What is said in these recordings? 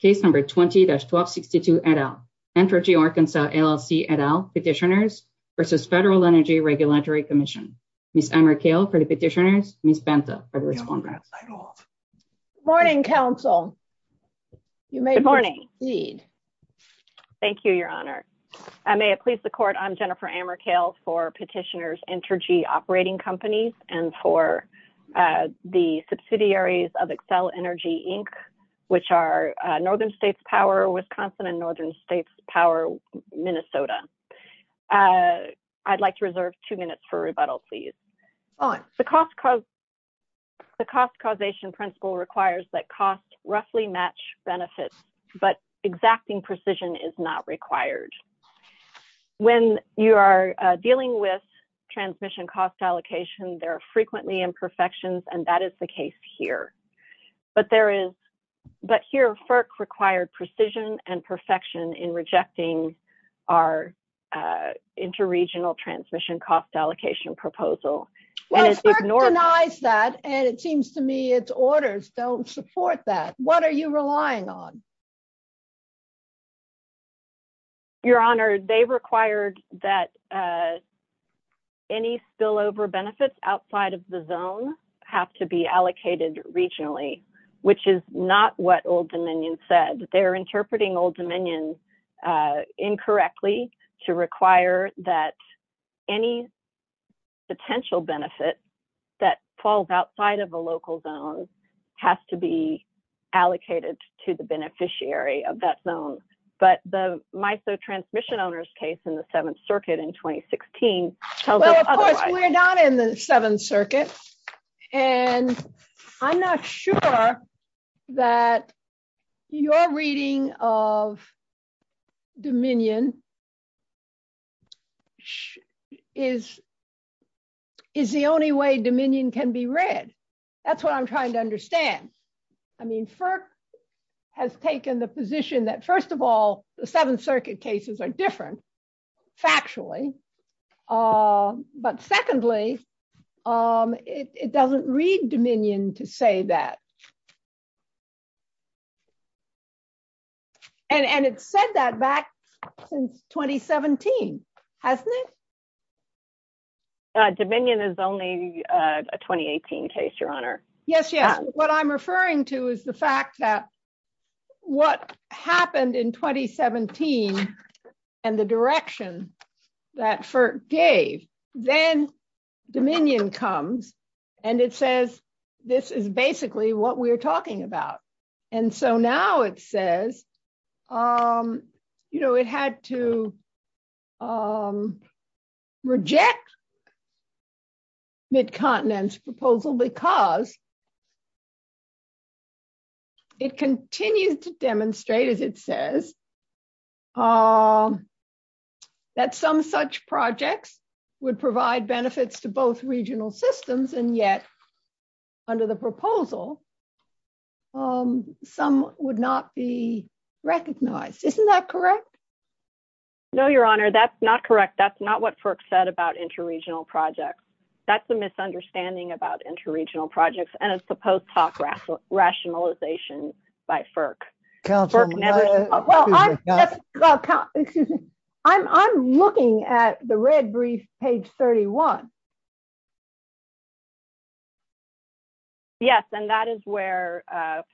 Case number 20-1262 et al. Entergy Arkansas, LLC et al. Petitioners versus Federal Energy Regulatory Commission. Ms. Amarkale for the petitioners, Ms. Banta for the respondents. Good morning, counsel. You may proceed. Thank you, your honor. I may have pleased the court. I'm Jennifer Amarkale for Petitioners Entergy Operating Companies and for the subsidiaries of Accel Energy, Inc., which are Northern States Power Wisconsin and Northern States Power Minnesota. I'd like to reserve two minutes for rebuttal, please. The cost causation principle requires that costs roughly match benefits, but exacting precision is not required. When you are dealing with transmission cost allocation, there are frequently imperfections, and that is the case here. But here FERC required precision and perfection in rejecting our interregional transmission cost allocation proposal. FERC denies that, and it seems to me its orders don't support that. What are you relying on? Your honor, they required that any spillover benefits outside of the zone have to be allocated regionally, which is not what Old Dominion said. They're interpreting Old Dominion incorrectly to require that any potential benefit that falls outside of a local zone has to be allocated to the beneficiary of that zone. But the MISO transmission owners case in the Seventh Circuit in 2016 tells us otherwise. Well, of course, we're not in the Seventh Circuit, and I'm not sure that your reading of Dominion is the only way Dominion can be read. That's what I'm trying to understand. I mean, FERC has taken the position that, first of all, the Seventh Circuit cases are different, factually, but secondly, it doesn't read Dominion to say that. And it said that back since 2017, hasn't it? Dominion is only a 2018 case, your honor. Yes, yes. What I'm referring to is the fact that what happened in 2017 and the direction that FERC gave, then Dominion comes and it says, this is basically what we're talking about. And so now it says, you know, it had to reject Mid-Continent's proposal because it continues to demonstrate, as it says, that some such projects would provide benefits to both regional systems, and yet under the proposal, some would not be recognized. Isn't that correct? No, your honor, that's not correct. That's not what FERC said about inter-regional projects. That's a misunderstanding about inter-regional projects and it's the post-talk rationalization by FERC. I'm looking at the red brief, page 31. Yes, and that is where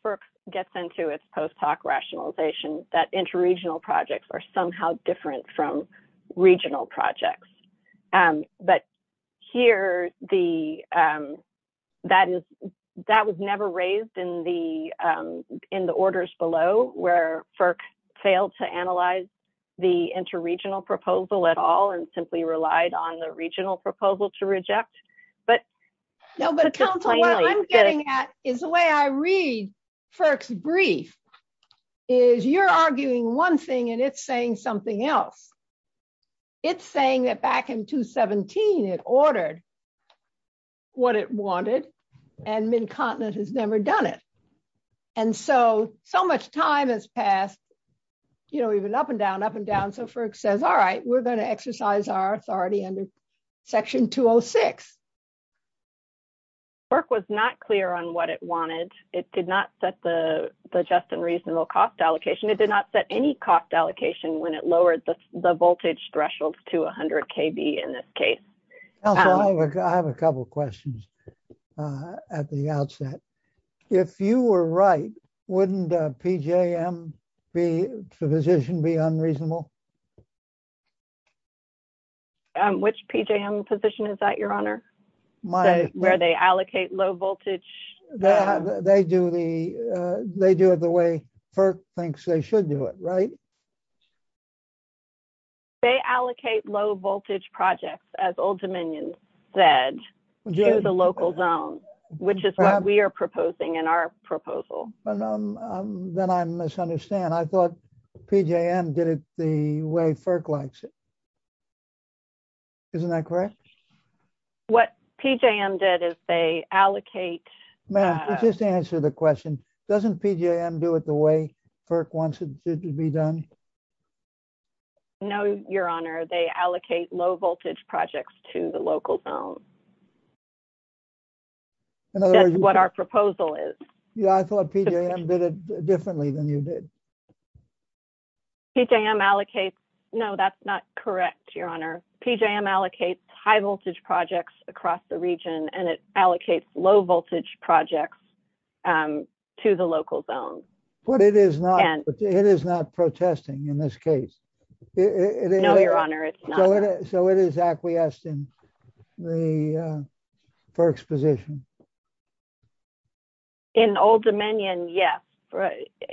FERC gets into its post-talk rationalization that inter-regional projects are somehow different from regional projects. But here, that was never raised in the orders below where FERC failed to analyze the inter-regional proposal at all and simply relied on the regional proposal to reject. No, but counsel, what I'm getting at is the way I read FERC's brief is you're arguing one thing and it's saying something else. It's saying that back in 2017, it ordered what it wanted and Mid-Continent has never done it. And so, so much time has passed, you know, even up and down, up and down, so FERC says, all right, we're going to exercise our authority under section 206. FERC was not clear on what it wanted. It did not set the just and reasonable cost allocation. It did not set any cost allocation when it lowered the voltage threshold to 100 kV in this case. Counsel, I have a couple of questions at the outset. If you were right, wouldn't PJM be, the position be unreasonable? Which PJM position is that, your honor? Where they allocate low voltage? They do the, they do it the way FERC thinks they should do it, right? They allocate low voltage projects, as Old Dominion said, to the local zone, which is what we are proposing in our proposal. Then I misunderstand. I thought PJM did it the way FERC likes it. Isn't that correct? What PJM did is they allocate. Ma'am, just answer the question. Doesn't PJM do it the way FERC wants it to be done? No, your honor. They allocate low voltage projects to the local zone. That's what our proposal is. Yeah, I thought PJM did it differently than you did. PJM allocates. No, that's not correct, your honor. PJM allocates high voltage projects across the region and it allocates low voltage projects to the local zone. But it is not, it is not protesting in this case. No, your honor, it's not. So it is acquiescing the FERC's position. In Old Dominion, yes,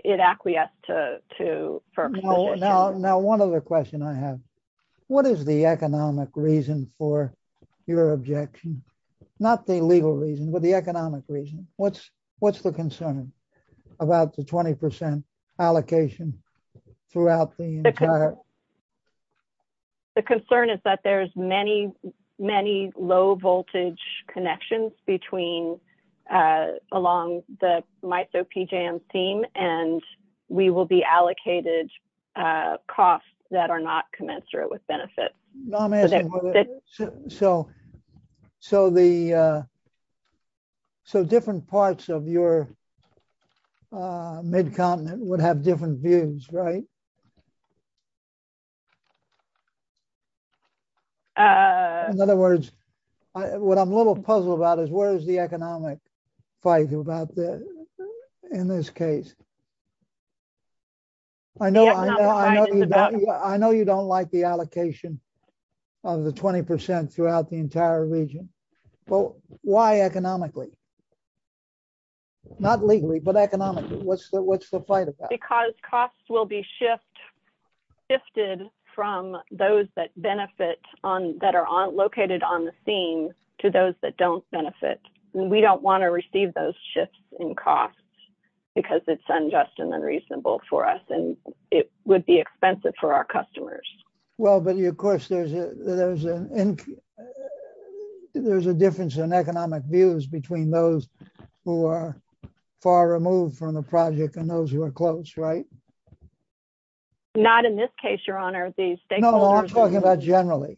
it acquiesced to FERC's position. Now, one other question I have. What is the economic reason for your objection? Not the legal reason, but the economic reason. What's the concern about the 20% allocation throughout the entire... The concern is that there's many, many low voltage connections between, along the MISO-PJM theme and we will be allocated costs that are not commensurate with benefits. So, so the, so different parts of your mid-continent would have different views, right? In other words, what I'm a little puzzled about is where is the economic fight about in this case? I know you don't like the allocation of the 20% throughout the entire region, but why economically? Not legally, but economically, what's the fight about? Because costs will be shifted from those that benefit on, that are located on the theme to those that don't benefit. And we don't want to receive those shifts in costs because it's unjust and unreasonable for us and it would be expensive for our customers. Well, but of course, there's a difference in economic views between those who are far removed from the project and those who are close, right? Not in this case, your honor. No, I'm talking about generally.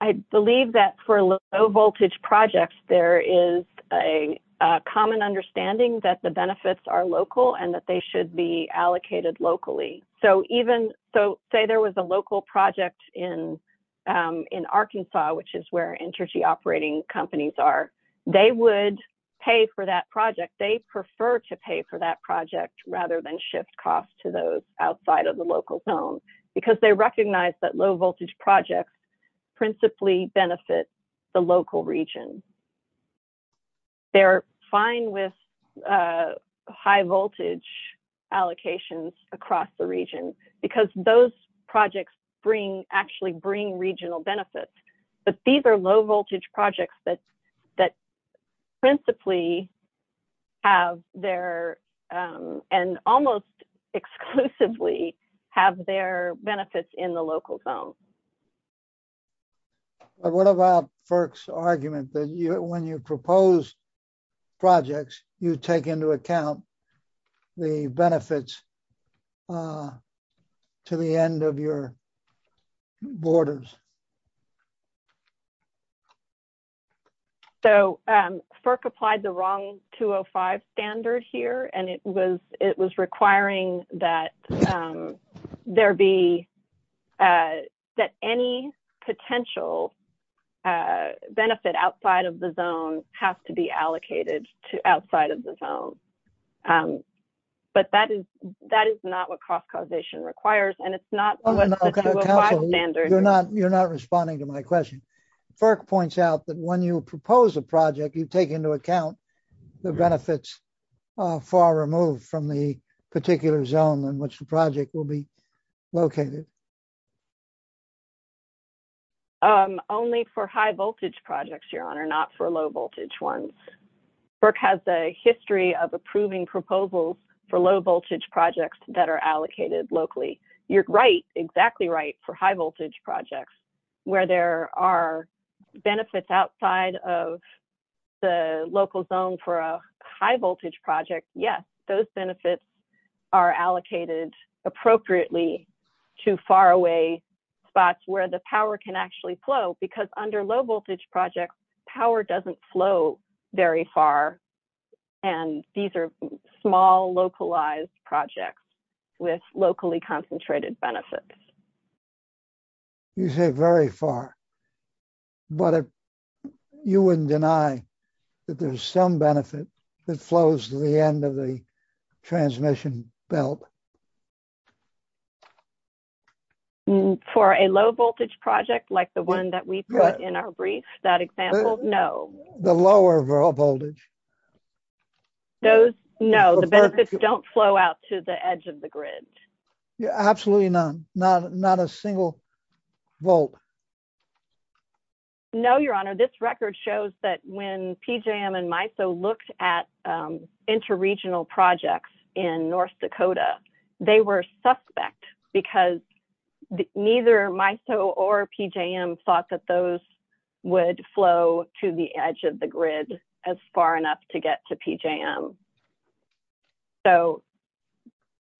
I believe that for low voltage projects, there is a common understanding that the benefits are local and that they should be allocated locally. So even, so say there was a local project in Arkansas, which is where energy operating companies are, they would pay for that project. They prefer to pay for that project rather than shift costs to those outside of the local zone because they recognize that low voltage projects principally benefit the local region. They're fine with high voltage allocations across the region because those projects bring, actually bring regional benefits. But these are low voltage projects that principally have their, and almost exclusively have their benefits in the local zone. What about FERC's argument that when you propose projects, you take into account the benefits to the end of your borders? So FERC applied the wrong 205 standard here, and it was requiring that there be, that any potential benefit outside of the zone has to be allocated to outside of the zone. But that is, that is not what cost causation requires, and it's not what the 205 standard. You're not, you're not responding to my question. FERC points out that when you propose a project, you take into account the benefits far removed from the particular zone in which the project will be located. Only for high voltage projects, Your Honor, not for low voltage ones. FERC has a history of approving proposals for low voltage projects that are allocated locally. You're right, exactly right, for high voltage projects where there are benefits outside of the local zone for a high voltage project. Yes, those benefits are allocated appropriately to far away spots where the power can actually flow. Because under low voltage projects, power doesn't flow very far, and these are small localized projects with locally concentrated benefits. You say very far, but you wouldn't deny that there's some benefit that flows to the end of the transmission belt. For a low voltage project like the one that we put in our brief, that example, no. The lower voltage. Those, no, the benefits don't flow out to the edge of the grid. Absolutely not, not a single volt. No, Your Honor, this record shows that when PJM and MISO looked at interregional projects in North Dakota, they were suspect because neither MISO or PJM thought that those would flow to the edge of the grid as far enough to get to PJM. So,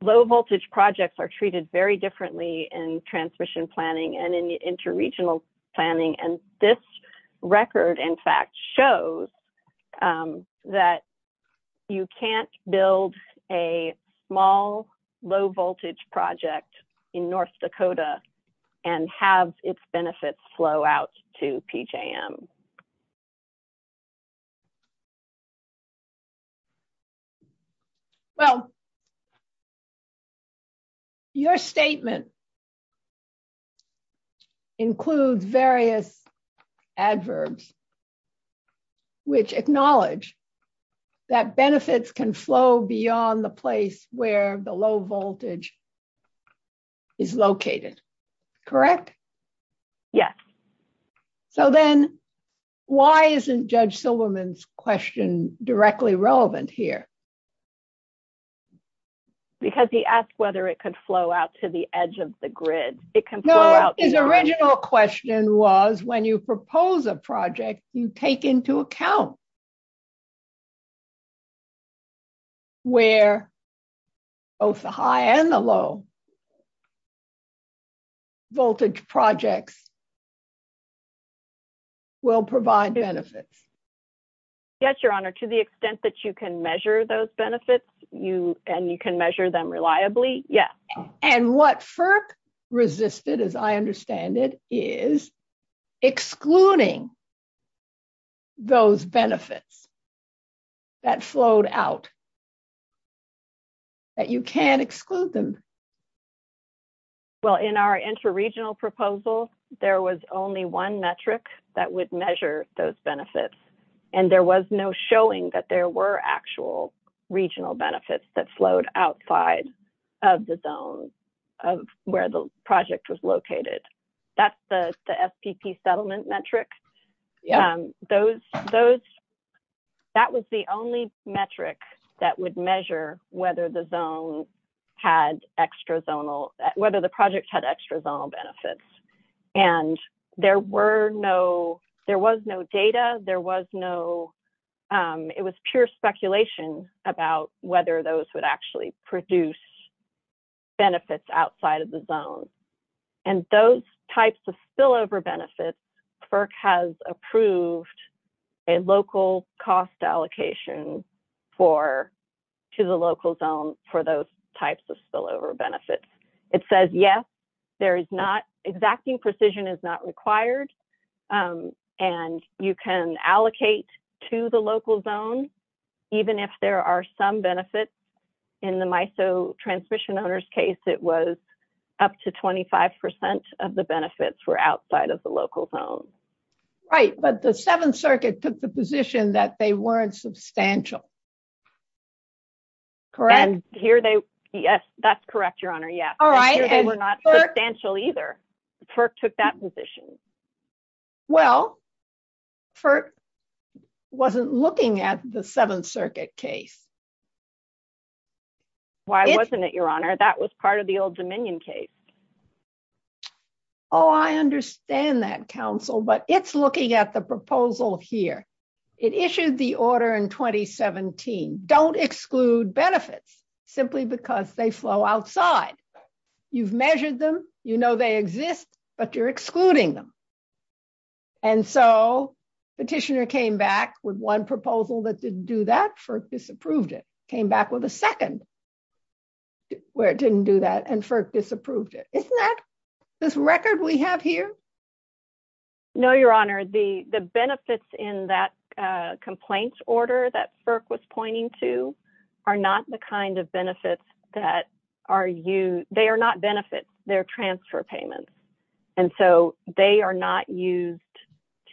low voltage projects are treated very differently in transmission planning and in interregional planning, and this record, in fact, shows that you can't build a small, low voltage project in North Dakota and have its benefits flow out to PJM. Well, your statement includes various adverbs which acknowledge that benefits can flow beyond the place where the low voltage is located, correct? Yes. So then, why isn't Judge Silverman's question directly relevant here? Because he asked whether it could flow out to the edge of the grid. No, his original question was when you propose a project, you take into account where both the high and the low voltage projects will provide benefits. Yes, Your Honor, to the extent that you can measure those benefits and you can measure them reliably, yes. And what FERC resisted, as I understand it, is excluding those benefits that flowed out, that you can't exclude them. Well, in our interregional proposal, there was only one metric that would measure those benefits, and there was no showing that there were actual regional benefits that flowed outside of the zone of where the project was located. That was the only metric that would measure whether the project had extra zonal benefits. And there was no data. It was pure speculation about whether those would actually produce benefits outside of the zone. And those types of spillover benefits, FERC has approved a local cost allocation to the local zone for those types of spillover benefits. It says, yes, exacting precision is not required. And you can allocate to the local zone, even if there are some benefits. In the MISO transmission owner's case, it was up to 25% of the benefits were outside of the local zone. Right. But the Seventh Circuit took the position that they weren't substantial. Correct? Yes, that's correct, Your Honor. Yes. All right. They were not substantial either. FERC took that position. Well, FERC wasn't looking at the Seventh Circuit case. Why wasn't it, Your Honor? That was part of the Old Dominion case. Oh, I understand that, counsel. But it's looking at the proposal here. It issued the order in 2017. Don't exclude benefits simply because they flow outside. You've measured them. You know they exist, but you're excluding them. And so, petitioner came back with one proposal that didn't do that for it. Came back with a second where it didn't do that. And FERC disapproved it. Isn't that this record we have here? No, Your Honor. The benefits in that complaints order that FERC was pointing to are not the kind of benefits that are used. They are not benefits. They're transfer payments. And so, they are not used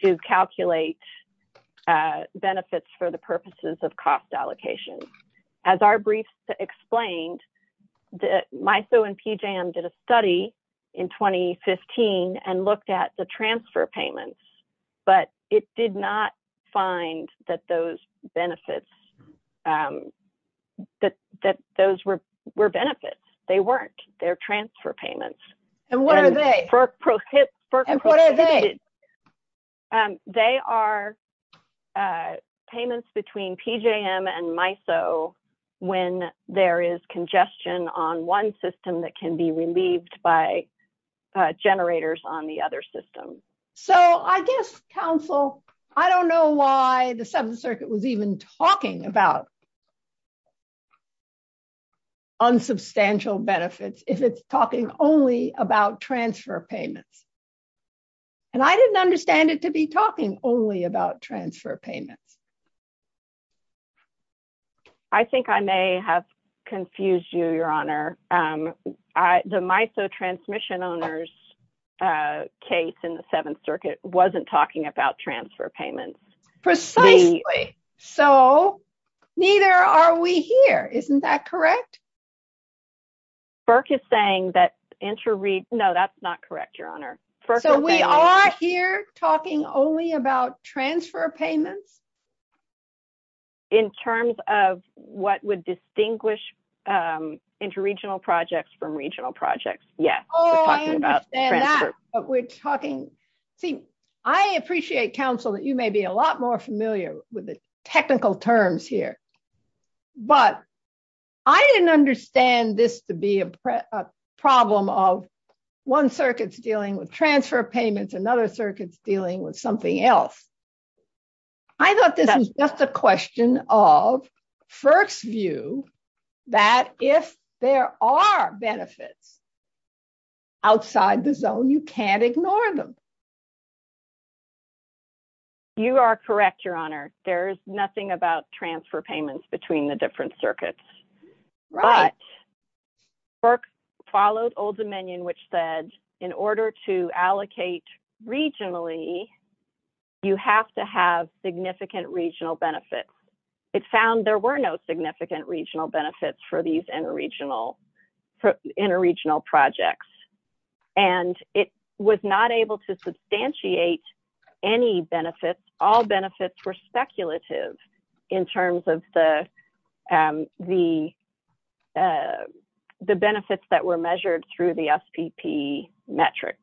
to calculate benefits for the purposes of cost allocation. As our brief explained, MISO and PJM did a study in 2015 and looked at the transfer payments, but it did not find that those benefits, that those were benefits. They weren't. They're transfer payments. And what are they? They are payments between PJM and MISO when there is congestion on one system that can be relieved by generators on the other system. So, I guess, counsel, I don't know why Seventh Circuit was even talking about unsubstantial benefits if it's talking only about transfer payments. And I didn't understand it to be talking only about transfer payments. I think I may have confused you, Your Honor. The MISO transmission owners case in the Seventh Circuit wasn't talking about transfer payments. Precisely. So, neither are we here. Isn't that correct? FERC is saying that, no, that's not correct, Your Honor. So, we are here talking only about transfer payments? In terms of what would distinguish interregional projects from regional projects, yes. Oh, I understand that. But we're talking, see, I appreciate, counsel, that you may be a lot more familiar with the technical terms here. But I didn't understand this to be a problem of one circuit's dealing with transfer payments, another circuit's dealing with something else. I thought this was just a question of FERC's view that if there are benefits, outside the zone, you can't ignore them. You are correct, Your Honor. There's nothing about transfer payments between the different circuits. But FERC followed Old Dominion, which said in order to allocate regionally, you have to have significant regional benefits. It found there were no significant regional benefits for these interregional projects. And it was not able to substantiate any benefits. All benefits were speculative in terms of the benefits that were measured through the SPP metric.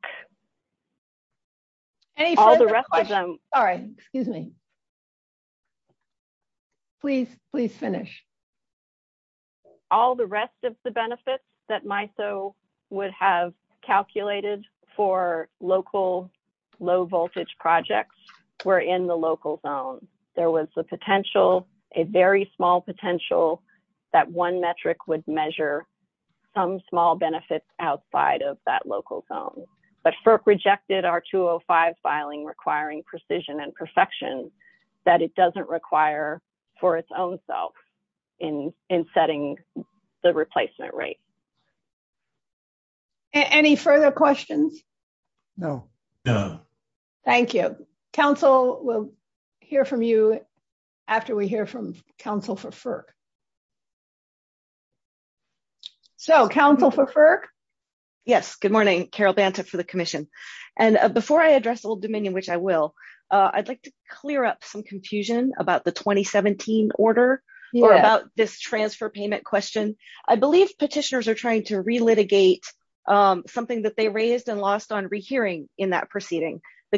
Any further questions? All the rest of them. Sorry, excuse me. Please finish. All the rest of the benefits that MISO would have calculated for local low-voltage projects were in the local zone. There was a potential, a very small potential that one metric would measure some small benefits outside of that local zone. But FERC rejected our 205 filing requiring precision and perfection that it doesn't require for its own self in setting the replacement rate. Any further questions? No. Thank you. Council will hear from you after we hear from Council for FERC. So, Council for FERC? Yes, good morning. Carol Banta for the I'd like to clear up some confusion about the 2017 order or about this transfer payment question. I believe petitioners are trying to re-litigate something that they raised and lost on rehearing in that proceeding. The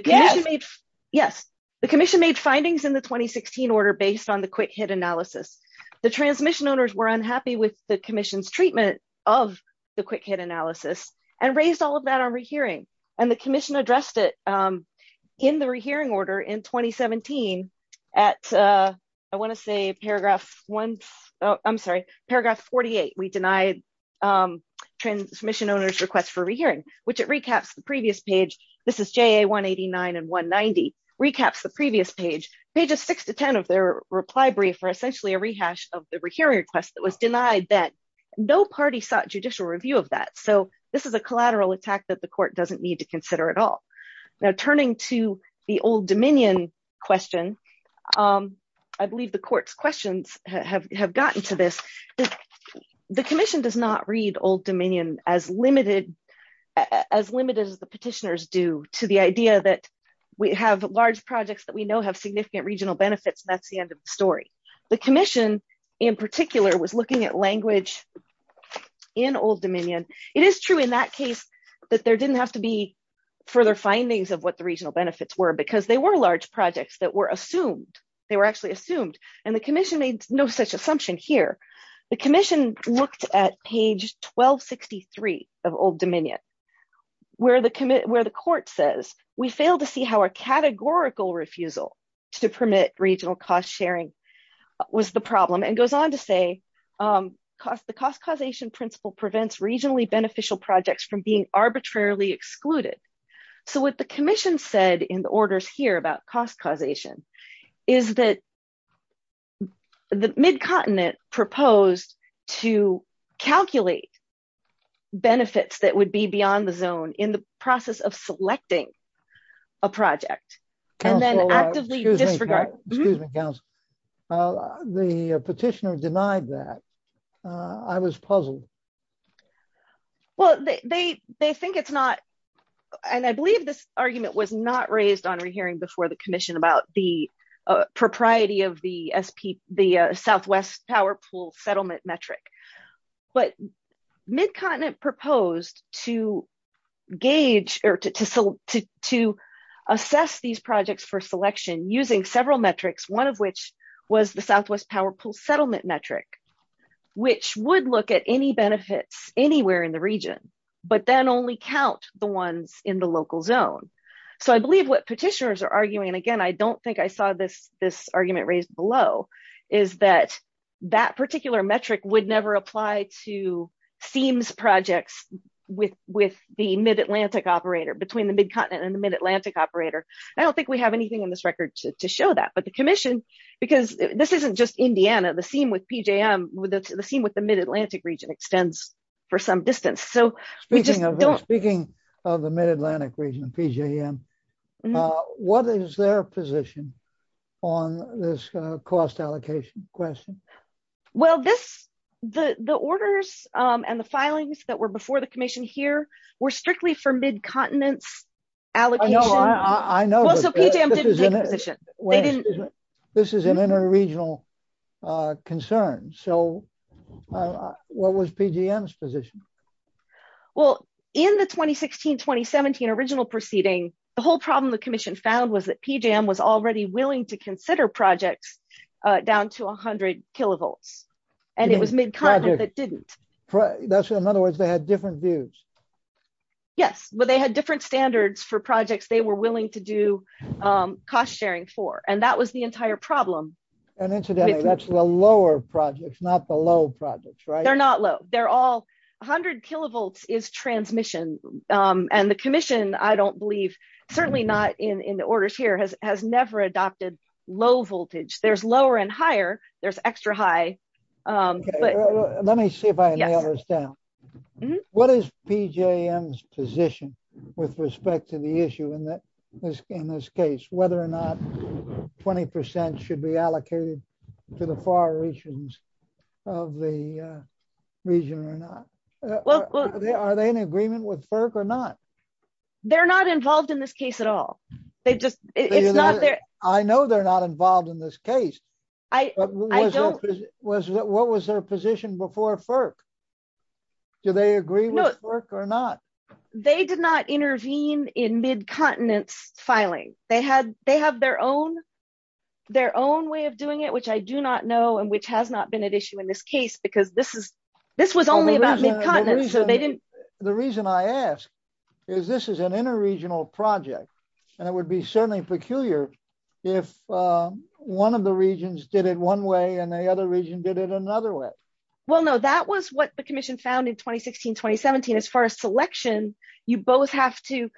commission made findings in the 2016 order based on the quick hit analysis. The transmission owners were unhappy with the commission's treatment of the quick hit analysis and raised all of that on rehearing. And the commission addressed it in the rehearing order in 2017 at, I want to say paragraph one, I'm sorry, paragraph 48. We denied transmission owners request for rehearing, which it recaps the previous page. This is JA 189 and 190, recaps the previous page. Pages six to 10 of their reply brief are essentially a rehash of the rehearing request that was denied that no party sought judicial review of that. So, this is a collateral attack that the court doesn't need to consider at all. Now, turning to the Old Dominion question, I believe the court's questions have gotten to this. The commission does not read Old Dominion as limited as the petitioners do to the idea that we have large projects that we know have significant regional benefits and that's the end of the story. The commission in particular was looking at language in Old Dominion. It is true in that case that there didn't have to be further findings of what the regional benefits were because they were large projects that were assumed. They were actually assumed and the commission made no such assumption here. The commission looked at page 1263 of Old Dominion where the court says, we fail to see how a categorical refusal to permit regional cost sharing was the problem and goes on to say the cost causation principle prevents regionally beneficial projects from being arbitrarily excluded. So, what the commission said in the orders here about cost causation is that the Mid-Continent proposed to calculate benefits that would be beyond the zone in the process of selecting a project and then actively disregard. Excuse me, counsel. The petitioner denied that. I was puzzled. Well, they think it's not and I believe this argument was not raised on re-hearing before the commission about the propriety of the Southwest Power Pool settlement metric. But Mid-Continent proposed to assess these projects for selection using several metrics, one of which was the Southwest Power Pool settlement metric, which would look at any benefits anywhere in the region but then only count the ones in the local zone. So, I believe what petitioners are arguing, and again I don't think I saw this argument raised below, is that that particular metric would never apply to SEAMS projects with the Mid-Atlantic operator, between the Mid-Continent and the Mid-Atlantic operator. I don't think we have anything in this record to show that, but the commission, because this isn't just Indiana, the SEAM with PJM, the SEAM with the Mid-Atlantic region extends for some distance. So, we just don't... Well, this, the orders and the filings that were before the commission here were strictly for Mid-Continent allocation. I know, I know. So, PJM didn't take a position. This is an inter-regional concern. So, what was PJM's position? Well, in the 2016-2017 original proceeding, the whole problem the commission found was that PJM was already willing to consider projects down to 100 kilovolts, and it was Mid-Continent that didn't. That's right. In other words, they had different views. Yes, but they had different standards for projects they were willing to do cost sharing for, and that was the entire problem. And incidentally, that's the lower projects, not the low projects, right? They're not low. They're all... 100 kilovolts is transmission, and the commission, I don't believe, certainly not in orders here, has never adopted low voltage. There's lower and higher. There's extra high. Let me see if I nail this down. What is PJM's position with respect to the issue in this case, whether or not 20% should be allocated to the far regions of the region or not? Are they in agreement with FERC or not? They're not involved in this case at all. It's not their... I know they're not involved in this case, but what was their position before FERC? Do they agree with FERC or not? They did not intervene in Mid-Continent's filing. They have their own way of doing it, which I do not know, and which has not been at issue in this case, because this was only about Mid-Continent, so they didn't... The reason I ask is this is an inter-regional project, and it would be certainly peculiar if one of the regions did it one way, and the other region did it another way. Well, no, that was what the commission found in 2016-2017. As far as selection, you both have to...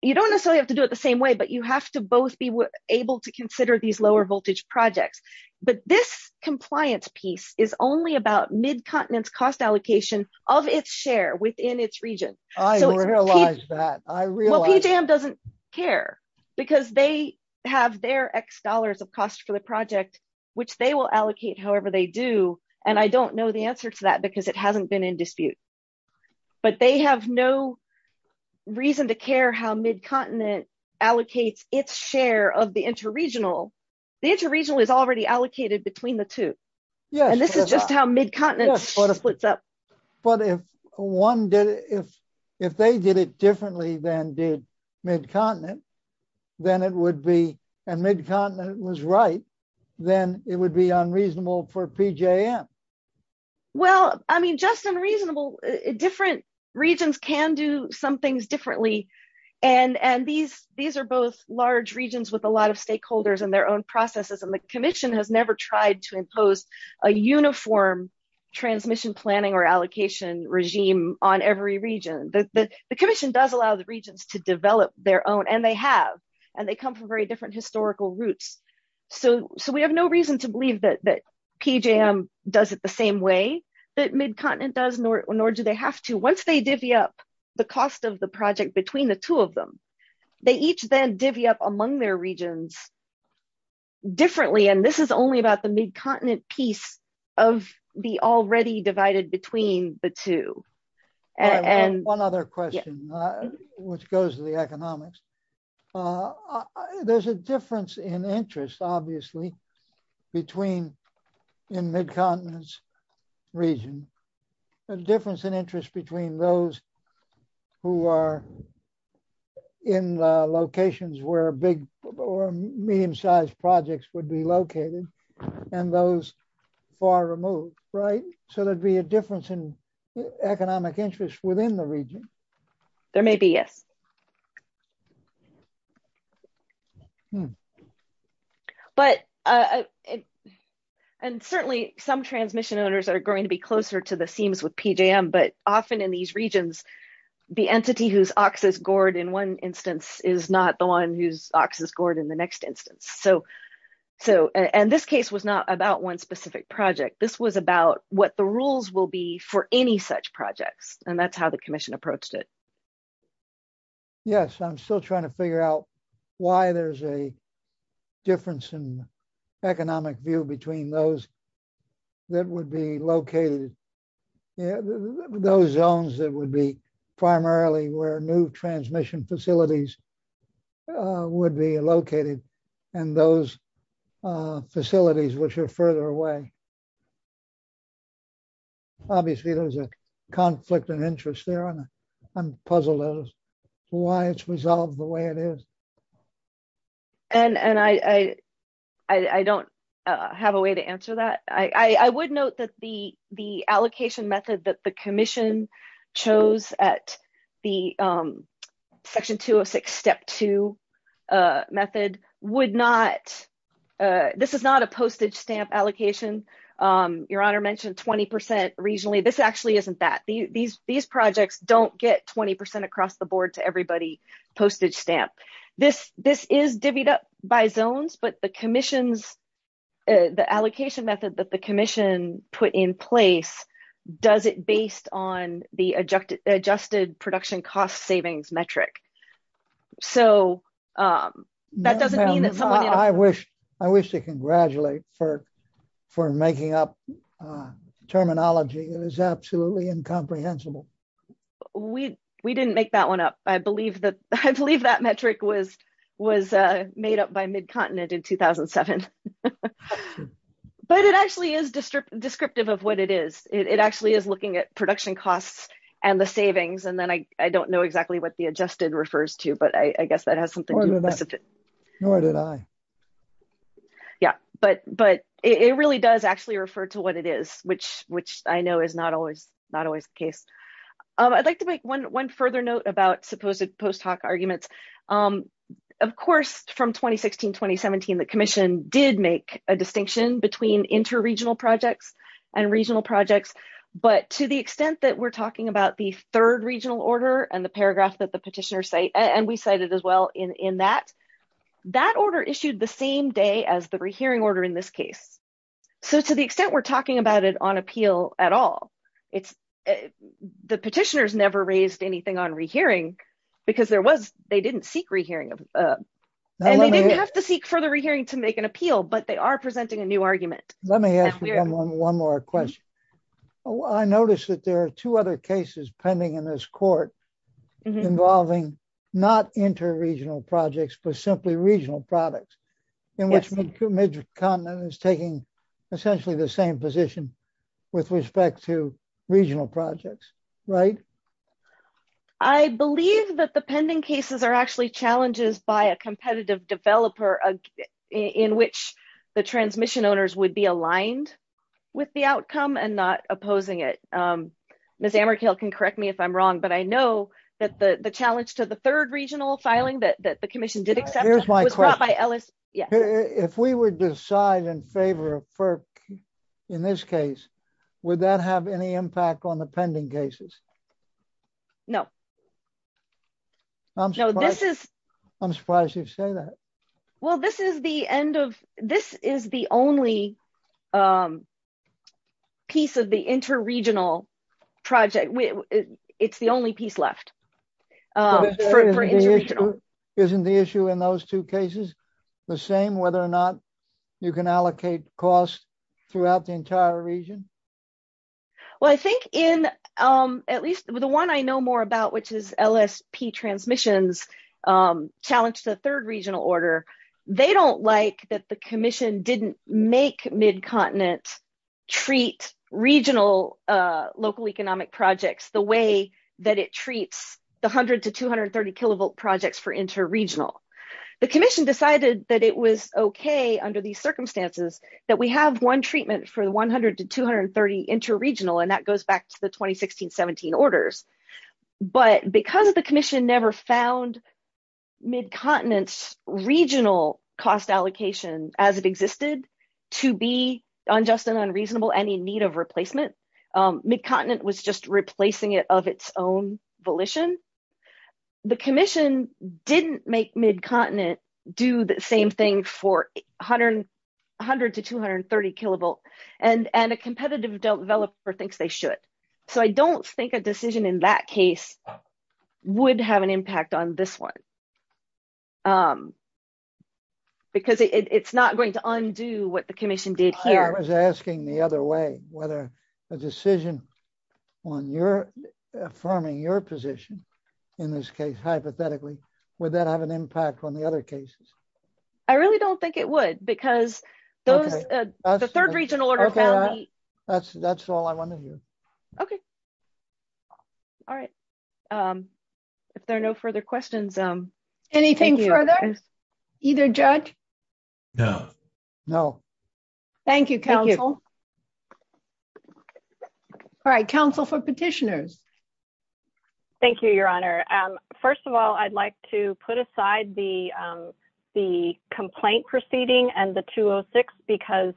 You don't necessarily have to do it the same way, but you have to both be able to consider these lower voltage projects, but this compliance piece is only about Mid-Continent's cost allocation of its share within its region. I realize that. Well, PJM doesn't care because they have their X dollars of cost for the project, which they will allocate however they do, and I don't know the answer to that because it hasn't been in dispute, but they have no reason to care how Mid-Continent allocates its share of the inter-regional. The inter-regional is already allocated between the two, and this is just how Mid-Continent splits up. But if they did it differently than did Mid-Continent, then it would be... And Mid-Continent was right, then it would be unreasonable for PJM. Well, I mean, just unreasonable. Different regions can do some things differently, and these are both large regions with a lot of stakeholders and their own processes, and the Commission has never tried to impose a uniform transmission planning or allocation regime on every region. The Commission does allow the regions to develop their own, and they have, and they come from very different historical roots. So we have no reason to believe that PJM does it the same way that Mid-Continent does, nor do they have to. Once they divvy up the cost of the project between the two of them, they each then divvy up among their regions differently, and this is only about the Mid-Continent piece of the already divided between the two. One other question, which goes to the economics. There's a difference in interest, obviously, between in Mid-Continent's region, a difference in interest between those who are in the locations where big or medium-sized projects would be located, and those far removed, right? So there'd be a difference in economic interest within the region. There may be, yes. But, and certainly some transmission owners are going to be closer to the seams with PJM, but often in these regions, the entity whose ox is gored in one instance is not the one whose ox is gored in the next instance. So, and this case was not about one specific project. This was about what the rules will be for any such projects, and that's how the Commission approached it. Yes, I'm still trying to figure out why there's a difference in economic view between those that would be located, those zones that would be primarily where new transmission facilities would be located, and those facilities which are further away. Obviously, there's a conflict of interest there, and I'm puzzled as to why it's resolved the way it is. And I don't have a way to answer that. I would note that the allocation method that the Commission chose at the Section 206 Step 2 method would not, this is not a postage stamp allocation. Your Honor mentioned 20% regionally. This actually isn't that. These projects don't get 20% across the board to everybody postage stamp. This is divvied up by zones, but the allocation method that the Commission put in place does it based on the adjusted production cost savings metric. So, that doesn't mean that someone- I wish to congratulate for making up terminology. It is absolutely incomprehensible. We didn't make that one up. I believe that metric was made up by Midcontinent in 2007. But it actually is descriptive of what it is. It actually is looking at production costs and the savings, and then I don't know exactly what the adjusted refers to, but I guess that has something to do with it. Nor did I. Yeah, but it really does refer to what it is, which I know is not always the case. I'd like to make one further note about supposed post hoc arguments. Of course, from 2016-2017, the Commission did make a distinction between inter-regional projects and regional projects, but to the extent that we're talking about the third regional order and the paragraph that the petitioner cited, and we cited as well in that, that order issued the same day as the re-hearing order in this case. So, to the extent we're talking about it on appeal at all, the petitioners never raised anything on re-hearing because they didn't seek re-hearing, and they didn't have to seek further re-hearing to make an appeal, but they are presenting a new argument. Let me ask you one more question. I noticed that there are two other cases pending in this court involving not inter-regional projects, but simply regional products, in which Mid-Continent is taking essentially the same position with respect to regional projects, right? I believe that the pending cases are actually challenges by a competitive developer in which the transmission owners would be aligned with the outcome and not opposing it. Ms. Amarkil can correct me if I'm wrong, but I know that the challenge to the third regional filing that the commission did accept was brought by Ellis. If we would decide in favor of FERC in this case, would that have any impact on the pending cases? No. I'm surprised you say that. Well, this is the only piece of the inter-regional project. It's the only piece left. Isn't the issue in those two cases the same, whether or not you can allocate costs throughout the entire region? Well, I think in at least the one I know more about, which is they don't like that the commission didn't make Mid-Continent treat regional local economic projects the way that it treats the 100 to 230 kilovolt projects for inter-regional. The commission decided that it was okay under these circumstances that we have one treatment for the 100 to 230 inter-regional, and that goes back to the 2016-17 orders. But because the commission never found Mid-Continent's regional cost allocation, as it existed, to be unjust and unreasonable and in need of replacement, Mid-Continent was just replacing it of its own volition. The commission didn't make Mid-Continent do the same thing for 100 to 230 kilovolt, and a competitive developer thinks they should. So I don't think a decision in that case would have an impact on this one, because it's not going to undo what the commission did here. I was asking the other way, whether a decision on your affirming your position in this case, hypothetically, would that have an impact on the other cases? I really don't think it would, because the third order found the- Okay. That's all I want to hear. Okay. All right. If there are no further questions- Anything further? Either judge? No. No. Thank you, counsel. Thank you. All right, counsel for petitioners. Thank you, your honor. First of all, I'd like to put aside the complaint proceeding and the 206, because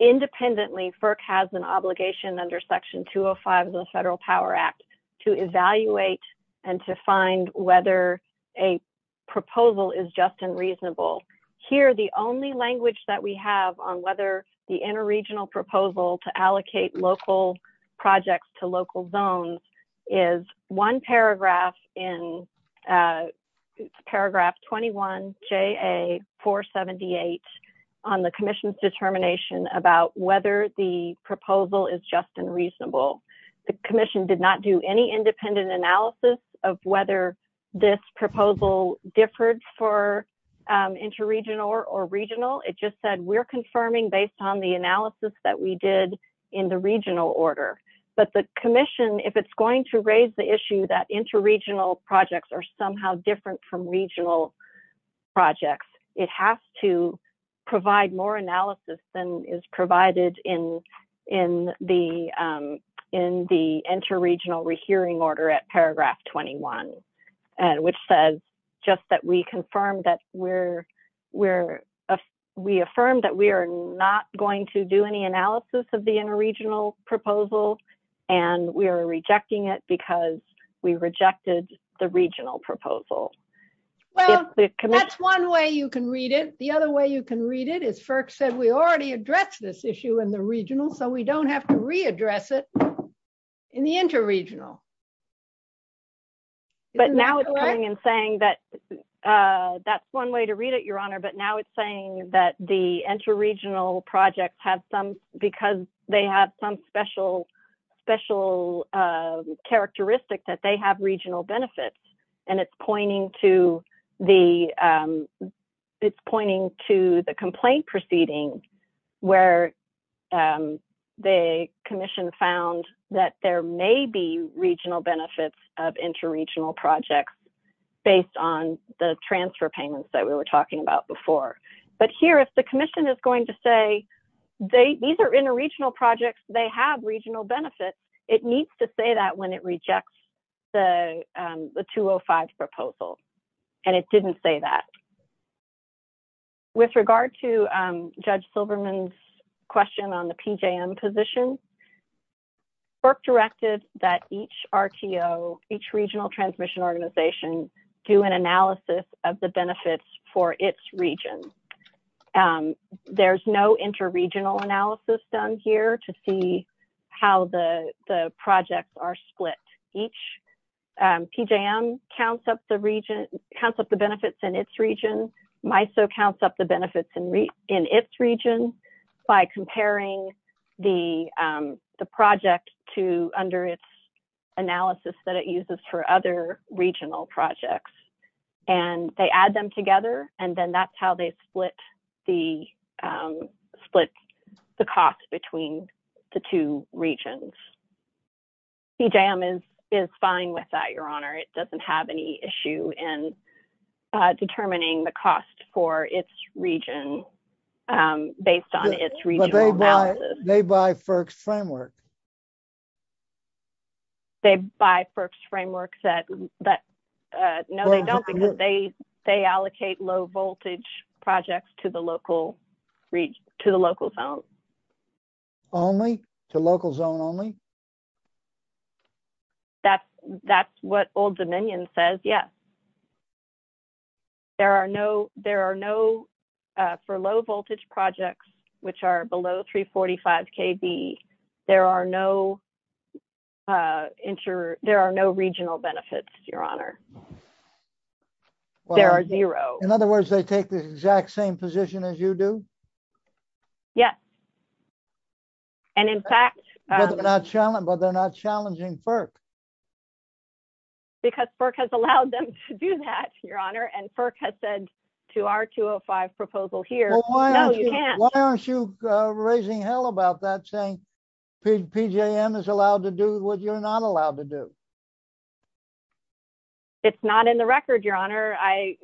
independently, FERC has an obligation under section 205 of the Federal Power Act to evaluate and to find whether a proposal is just and reasonable. Here, the only language that we have on whether the inter-regional proposal to allocate local projects to local zones is one paragraph in paragraph 21JA478 on the commission's determination about whether the proposal is just and reasonable. The commission did not do any independent analysis of whether this proposal differed for inter-regional or regional. It just said, we're confirming based on the analysis that we did in the regional order. But the commission, if it's going to raise the issue that inter-regional projects are somehow different from regional projects, it has to provide more analysis than is provided in the inter-regional rehearing order at paragraph 21, which says just that we confirmed that we're, we're, we affirmed that we are not going to do any analysis of the inter-regional proposal and we are rejecting it because we rejected the regional proposal. Well, that's one way you can read it. The other way you can read it is FERC said we already addressed this issue in the regional, so we don't have to readdress it in the inter-regional. But now it's coming and saying that, that's one way to read it, your honor, but now it's saying that the inter-regional projects have some, because they have some special, special characteristics that they have regional benefits and it's pointing to the, it's pointing to the complaint proceeding where the commission found that there may be regional benefits of inter-regional projects based on the transfer payments that we were talking about before. But here, if the commission is going to say they, these are inter-regional projects, they have regional benefits, it needs to say that when it rejects the, the 205 proposal and it didn't say that. With regard to Judge Silverman's question on the PJM position, FERC directed that each RTO, each regional transmission organization do an analysis of the benefits for its region. There's no inter-regional analysis done here to see how the, the projects are split. Each PJM counts up the region, counts up the benefits in its region. MISO counts up the benefits in its region by comparing the, the project to under its projects and they add them together and then that's how they split the, split the cost between the two regions. PJM is, is fine with that, your honor. It doesn't have any issue in determining the cost for its region based on its regional analysis. But they buy, they buy FERC's framework. They buy FERC's framework that, that, no they don't because they, they allocate low voltage projects to the local region, to the local zone. Only? To local zone only? That's, that's what Old Dominion says, yes. There are no, there are no, for low voltage projects which are below 345 KB, there are no inter, there are no regional benefits, your honor. There are zero. In other words, they take the exact same position as you do? Yes. And in fact. But they're not challenging FERC. Because FERC has allowed them to do that, your honor. And FERC has said to our 205 proposal here. Why aren't you raising hell about that saying PJM is allowed to do what you're not allowed to do? It's not in the record, your honor. I,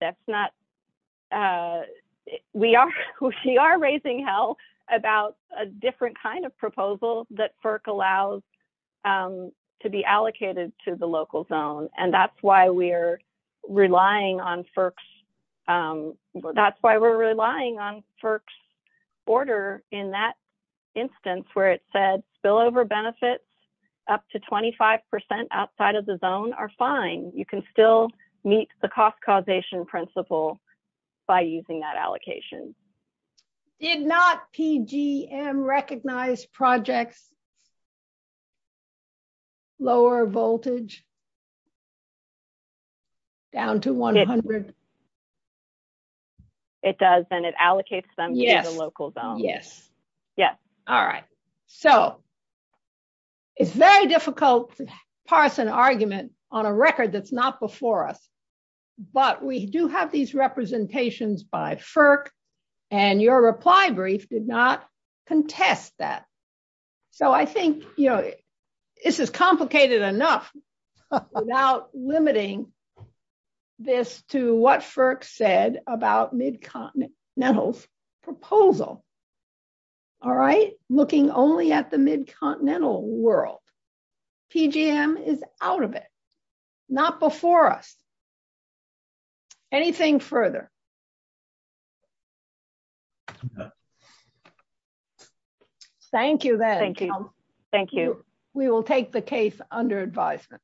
that's not, we are, we are raising hell about a different kind of proposal that FERC allows to be allocated to the local zone. And that's why we're relying on FERC's, that's why we're relying on FERC's order in that instance where it said spillover benefits up to 25% outside of the zone are fine. You can still meet the cost causation principle by using that allocation. Did not PGM recognize projects lower voltage down to 100? It does, and it allocates them to the local zone. Yes. Yes. All right. So it's very difficult to parse an argument on a record that's not before us. But we do have these representations by FERC and your reply brief did not contest that. So I think, you know, this is complicated enough without limiting this to what FERC said about mid-continental's proposal. All right, looking only at the mid-continental world, PGM is out of it, not before us. Anything further? Thank you. Thank you. Thank you. We will take the case under advisement.